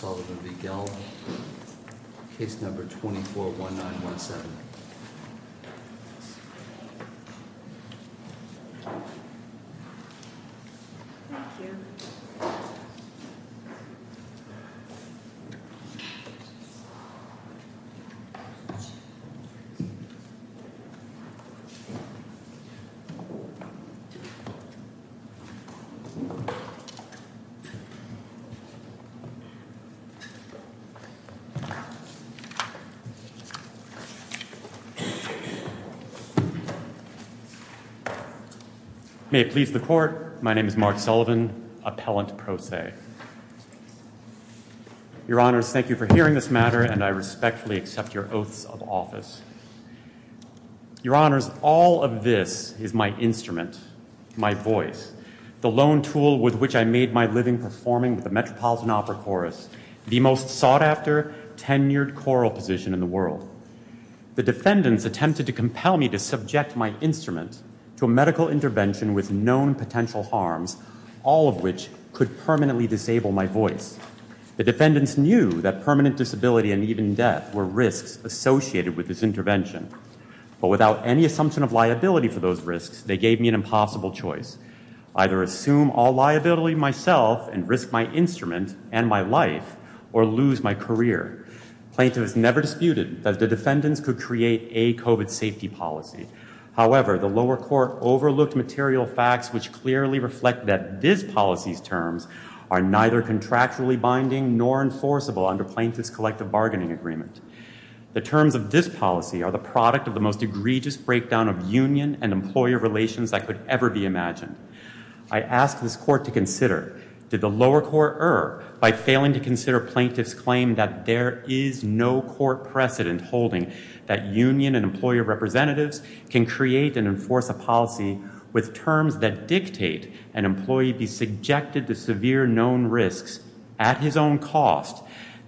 v. Gelb, case number 241917. May it please the court, my name is Mark Sullivan, appellant pro se. Your honors, thank you for hearing this matter and I respectfully accept your oaths of office. Your honors, all of this is my instrument, my voice, the lone tool with which I made my living performing with the Metropolitan Opera Chorus, the most sought after tenured choral position in the world. The defendants attempted to compel me to subject my instrument to a medical intervention with known potential harms, all of which could permanently disable my voice. The defendants knew that permanent disability and even death were risks associated with this intervention, but without any assumption of liability for those risks, they gave me an impossible choice, either assume all liability myself and risk my instrument and my life or lose my career. Plaintiffs never disputed that the defendants could create a COVID safety policy. However, the lower court overlooked material facts which clearly reflect that this policy's terms are neither contractually binding nor enforceable under plaintiff's collective bargaining agreement. The terms of this policy are the product of the most egregious breakdown of union and employer relations that could ever be imagined. I ask this court to consider, did the lower court err by failing to consider plaintiff's claim that there is no court precedent holding that union and employer representatives can create and enforce a policy with terms that dictate an employee be subjected to severe known risks at his own cost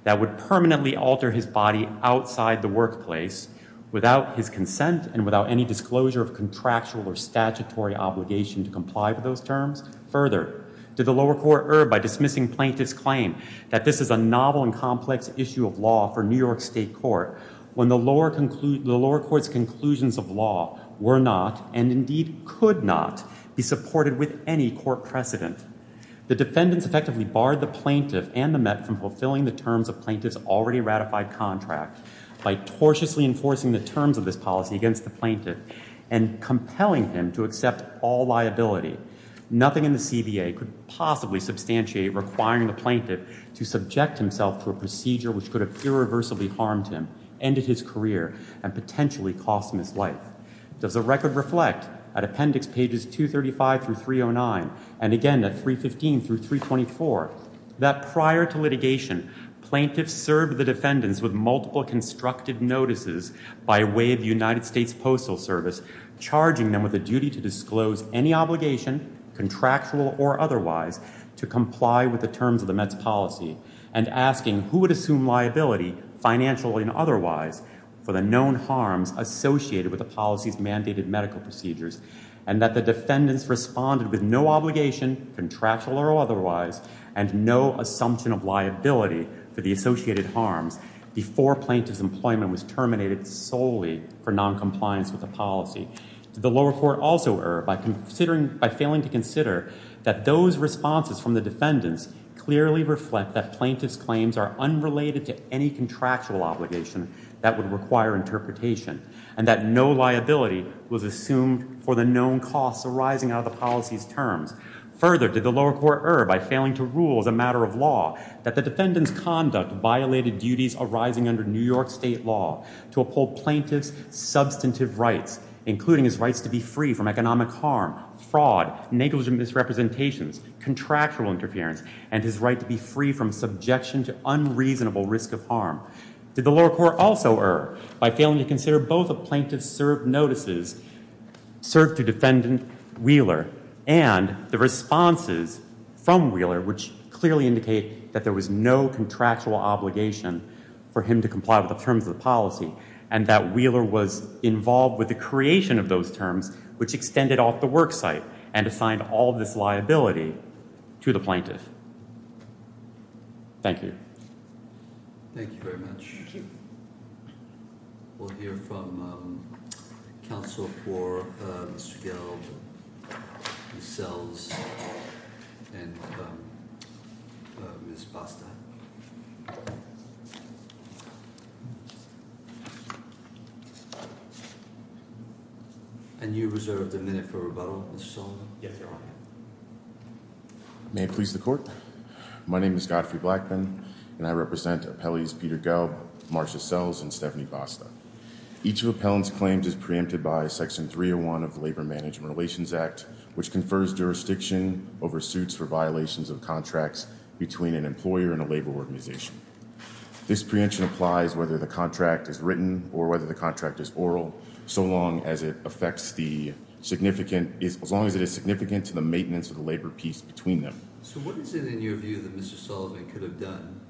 that would permanently alter his body outside the workplace without his consent and without any disclosure of contractual or statutory obligation to comply with those terms? Further, did the lower court err by dismissing plaintiff's claim that this is a novel and complex issue of law for New York State Court when the lower court's conclusions of law were not and indeed could not be supported with any court precedent? The defendants effectively barred the plaintiff and the Met from fulfilling the terms of plaintiff's already ratified contract by tortiously enforcing the terms of this policy against the plaintiff and compelling him to accept all liability. Nothing in the CBA could possibly substantiate requiring the plaintiff to subject himself to a procedure which could have irreversibly harmed him, ended his career, and potentially cost him his life. Does the record reflect at appendix pages 235 through 309 and again at 315 through 324 that prior to litigation, plaintiffs served the defendants with multiple constructed notices by way of the United States Postal Service, charging them with a duty to disclose any obligation, contractual or otherwise, to comply with the terms of the Met's policy, and asking who would assume liability, financial and otherwise, for the known harms associated with the policy's mandated medical procedures, and that the defendants responded with no obligation, contractual or otherwise, and no assumption of liability for the associated harms before plaintiff's employment was terminated solely for noncompliance with the policy? Did the lower court also err by failing to consider that those responses from the defendants clearly reflect that plaintiff's claims are unrelated to any contractual obligation that would require interpretation, and that no liability was assumed for the known costs arising out of the policy's terms? Further, did the lower court err by failing to rule as a matter of law that the defendant's conduct violated duties arising under New York state law to uphold plaintiff's substantive rights, including his rights to be free from economic harm, fraud, negligent misrepresentations, contractual interference, and his right to be free from subjection to unreasonable risk of harm? Did the lower court also err by failing to consider both of plaintiff's served notices served to defendant Wheeler and the responses from Wheeler, which clearly indicate that there was no contractual obligation for him to comply with the terms of the policy, and that Wheeler was involved with the creation of those terms, which extended off the work site and assigned all of this liability to the plaintiff? Thank you. Thank you very much. Thank you. We'll hear from counsel for Mr. Gelb, Ms. Sells, and Ms. Basta. And you reserved a minute for rebuttal, Mr. Sullivan? Yes, Your Honor. May it please the court? My name is Godfrey Blackman, and I represent appellees Peter Gelb, Marcia Sells, and Stephanie Basta. Each of the appellant's claims is preempted by Section 301 of the Labor Management Relations Act, which confers jurisdiction over suits for violations of contracts between an employer and a labor organization. This preemption applies whether the contract is written or whether the contract is oral, so long as it affects the significant, as long as it is significant to the maintenance of the labor peace between them. So what is it, in your view, that Mr. Sullivan could have done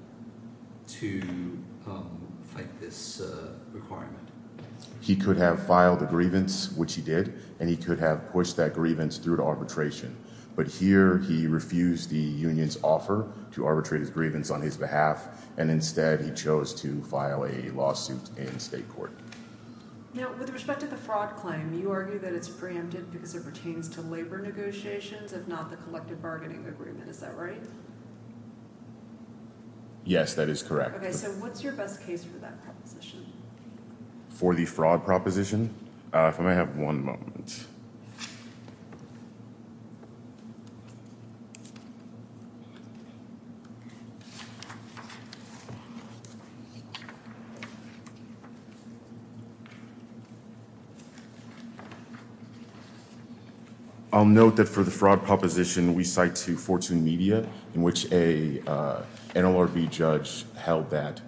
to fight this requirement? He could have filed a grievance, which he did, and he could have pushed that grievance through to arbitration. But here, he refused the union's offer to arbitrate his grievance on his behalf, and instead, he chose to file a lawsuit in state court. Now, with respect to the fraud claim, you argue that it's preempted because it pertains to labor negotiations, if not the collective bargaining agreement. Is that right? Yes, that is correct. Okay, so what's your best case for that proposition? For the fraud proposition? If I may have one moment. I'll note that for the fraud proposition, we cite to Fortune Media, in which a NLRB judge held that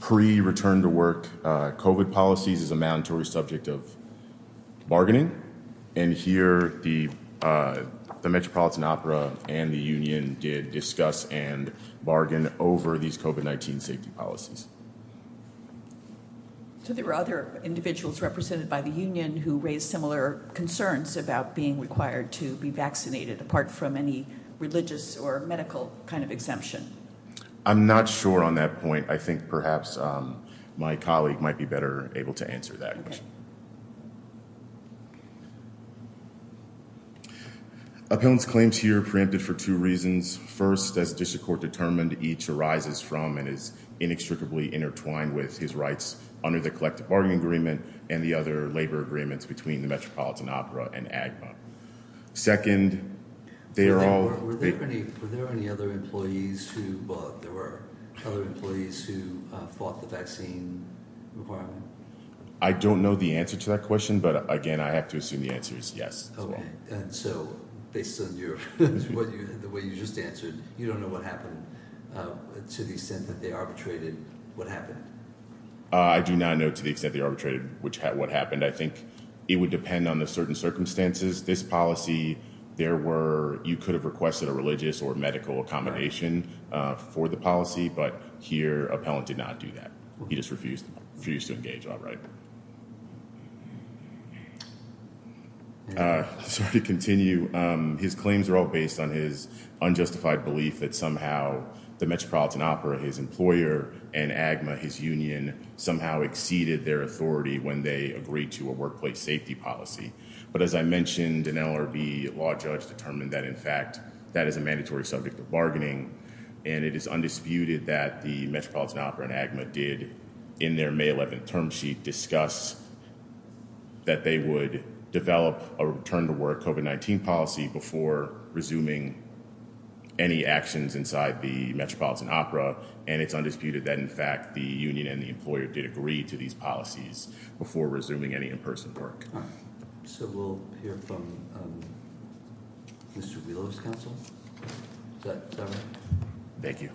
pre-return-to-work COVID policies is a mandatory subject of bargaining, and here, the Metropolitan Opera and the union did discuss and bargain over these COVID-19 safety policies. So there were other individuals represented by the union who raised similar concerns about being required to be vaccinated, apart from any religious or medical kind of exemption? I'm not sure on that point. I think perhaps my colleague might be better able to answer that question. Appellant's claims here are preempted for two reasons. First, as district court determined, each arises from and is inextricably intertwined with his rights under the collective bargaining agreement and the other labor agreements between the Metropolitan Opera and AGMA. Second, they are all… Were there any other employees who fought the vaccine requirement? I don't know the answer to that question, but again, I have to assume the answer is yes. So based on the way you just answered, you don't know what happened to the extent that they arbitrated what happened? I do not know to the extent they arbitrated what happened. I think it would depend on the certain circumstances. This policy, there were… You could have requested a religious or medical accommodation for the policy, but here, appellant did not do that. He just refused to engage outright. Sorry to continue. His claims are all based on his unjustified belief that somehow the Metropolitan Opera, his employer, and AGMA, his union, somehow exceeded their authority when they agreed to a workplace safety policy. But as I mentioned, an LRB law judge determined that, in fact, that is a mandatory subject of bargaining, and it is undisputed that the Metropolitan Opera and AGMA did, in their May 11th term sheet, discuss that they would develop a return-to-work COVID-19 policy before resuming any actions inside the Metropolitan Opera, and it's undisputed that, in fact, the union and the employer did agree to these policies before resuming any in-person work. So we'll hear from Mr. Wheeler's counsel. Is that right? Thank you.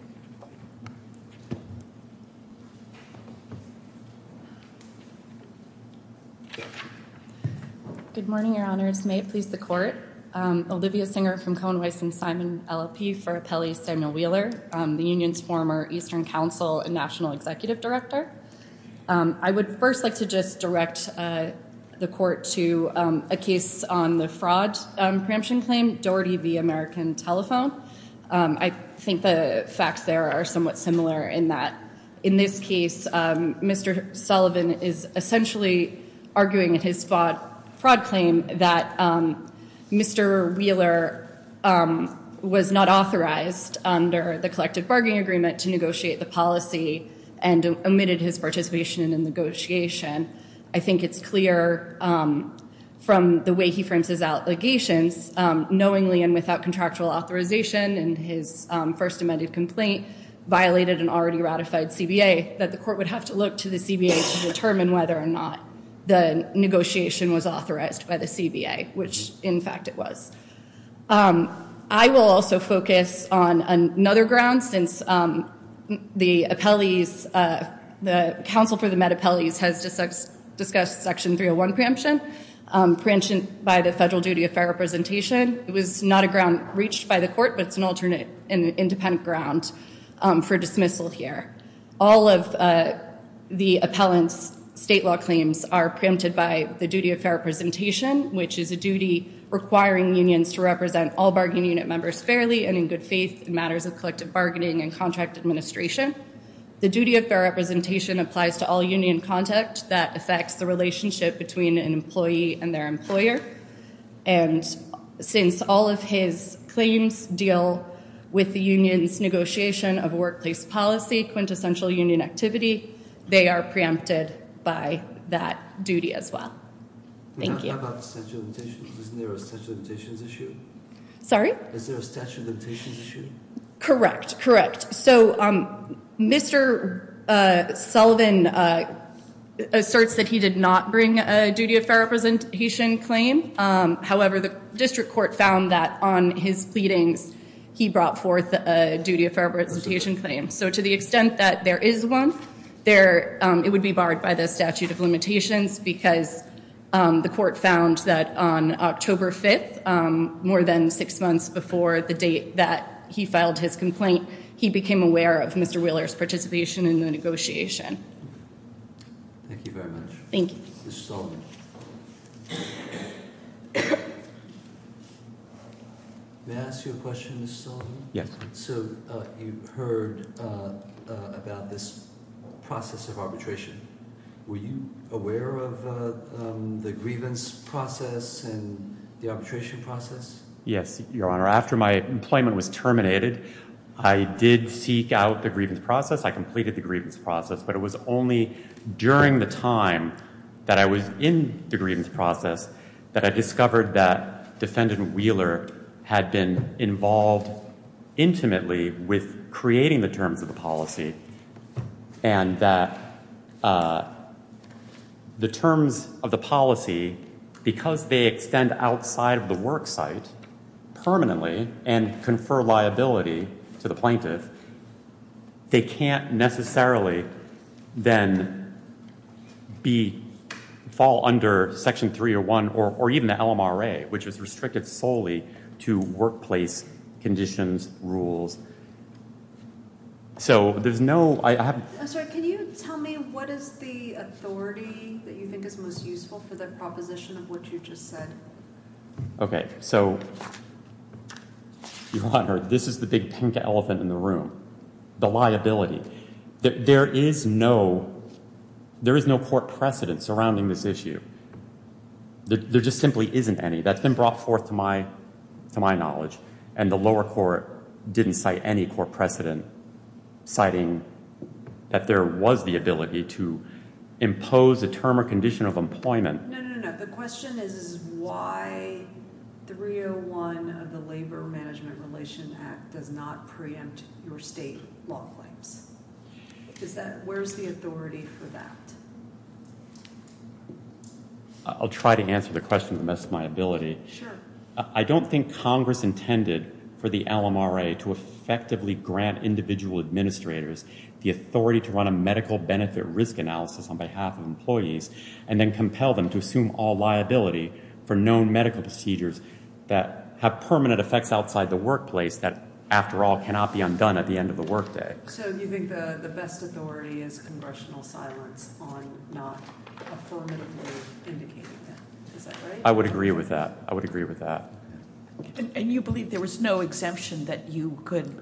Good morning, Your Honors. May it please the Court. Olivia Singer from Cohen-Weiss and Simon LLP for Appellee Samuel Wheeler, the union's former Eastern Council and National Executive Director. I would first like to just direct the Court to a case on the fraud preemption claim, Doherty v. American Telephone. I think the facts there are somewhat similar in that, in this case, Mr. Sullivan is essentially arguing in his fraud claim that Mr. Wheeler was not authorized under the collective bargaining agreement to negotiate the policy and omitted his participation in the negotiation. I think it's clear from the way he frames his allegations, knowingly and without contractual authorization in his first amended complaint, violated an already ratified CBA, that the Court would have to look to the CBA to determine whether or not the negotiation was authorized by the CBA, which, in fact, it was. I will also focus on another ground since the appellees, the counsel for the Met Appellees has discussed Section 301 preemption, preemption by the federal duty of fair representation. It was not a ground reached by the Court, but it's an alternate and independent ground for dismissal here. All of the appellant's state law claims are preempted by the duty of fair representation, which is a duty requiring unions to represent all bargaining unit members fairly and in good faith in matters of collective bargaining and contract administration. The duty of fair representation applies to all union contact that affects the relationship between an employee and their employer. And since all of his claims deal with the union's negotiation of workplace policy, quintessential union activity, they are preempted by that duty as well. Thank you. How about statute of limitations? Isn't there a statute of limitations issue? Sorry? Is there a statute of limitations issue? Correct, correct. So Mr. Sullivan asserts that he did not bring a duty of fair representation claim. However, the district court found that on his pleadings he brought forth a duty of fair representation claim. So to the extent that there is one, it would be barred by the statute of limitations because the court found that on October 5th, more than six months before the date that he filed his complaint, he became aware of Mr. Wheeler's participation in the negotiation. Thank you very much. Thank you. Mr. Sullivan. May I ask you a question, Mr. Sullivan? Yes. So you heard about this process of arbitration. Were you aware of the grievance process and the arbitration process? Yes, Your Honor. After my employment was terminated, I did seek out the grievance process. I completed the grievance process, but it was only during the time that I was in the grievance process that I discovered that Defendant Wheeler had been involved intimately with creating the terms of the policy and that the terms of the policy, because they extend outside of the work site permanently and confer liability to the plaintiff, they can't necessarily then fall under Section 301 or even the LMRA, which is restricted solely to workplace conditions, rules. I'm sorry. Can you tell me what is the authority that you think is most useful for the proposition of what you just said? Okay. So, Your Honor, this is the big pink elephant in the room, the liability. There is no court precedent surrounding this issue. There just simply isn't any. That's been brought forth to my knowledge, and the lower court didn't cite any court precedent citing that there was the ability to impose a term or condition of employment. No, no, no, no. The question is why 301 of the Labor Management Relation Act does not preempt your state law claims. Where's the authority for that? I'll try to answer the question to the best of my ability. Sure. I don't think Congress intended for the LMRA to effectively grant individual administrators the authority to run a medical benefit risk analysis on behalf of employees and then compel them to assume all liability for known medical procedures that have permanent effects outside the workplace that, after all, cannot be undone at the end of the workday. So you think the best authority is congressional silence on not affirmatively indicating that. Is that right? I would agree with that. I would agree with that. And you believe there was no exemption that you could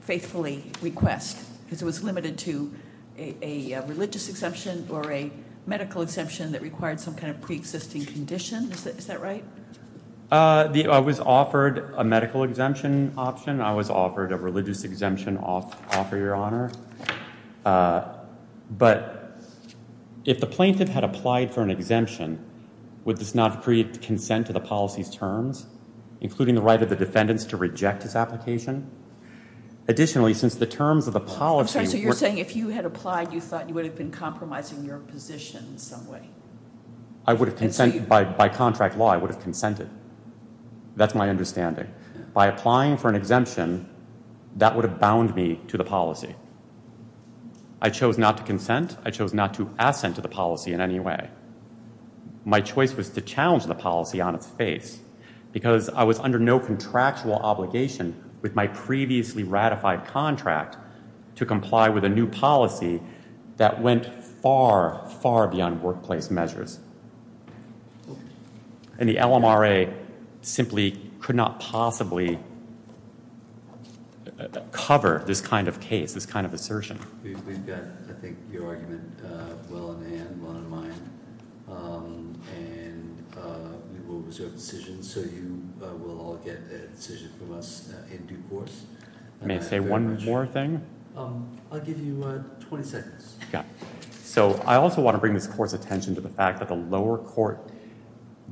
faithfully request because it was limited to a religious exemption or a medical exemption that required some kind of preexisting condition. Is that right? I was offered a medical exemption option. I was offered a religious exemption offer, Your Honor. But if the plaintiff had applied for an exemption, would this not create consent to the policy's terms, including the right of the defendants to reject this application? Additionally, since the terms of the policy were So you're saying if you had applied, you thought you would have been compromising your position in some way. By contract law, I would have consented. That's my understanding. By applying for an exemption, that would have bound me to the policy. I chose not to consent. I chose not to assent to the policy in any way. My choice was to challenge the policy on its face because I was under no contractual obligation with my previously ratified contract to comply with a new policy that went far, far beyond workplace measures. And the LMRA simply could not possibly cover this kind of case, this kind of assertion. We've got, I think, your argument well in hand, well in mind. And we will reserve decisions, so you will all get a decision from us in due course. May I say one more thing? I'll give you 20 seconds. So I also want to bring this court's attention to the fact that the lower court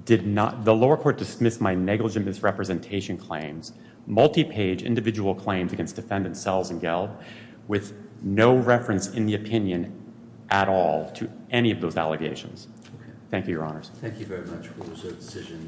did not, the lower court dismissed my negligent misrepresentation claims, multi-page individual claims against defendants Sells and Gelb, with no reference in the opinion at all to any of those allegations. Thank you, your honors. Thank you very much. We will reserve decisions.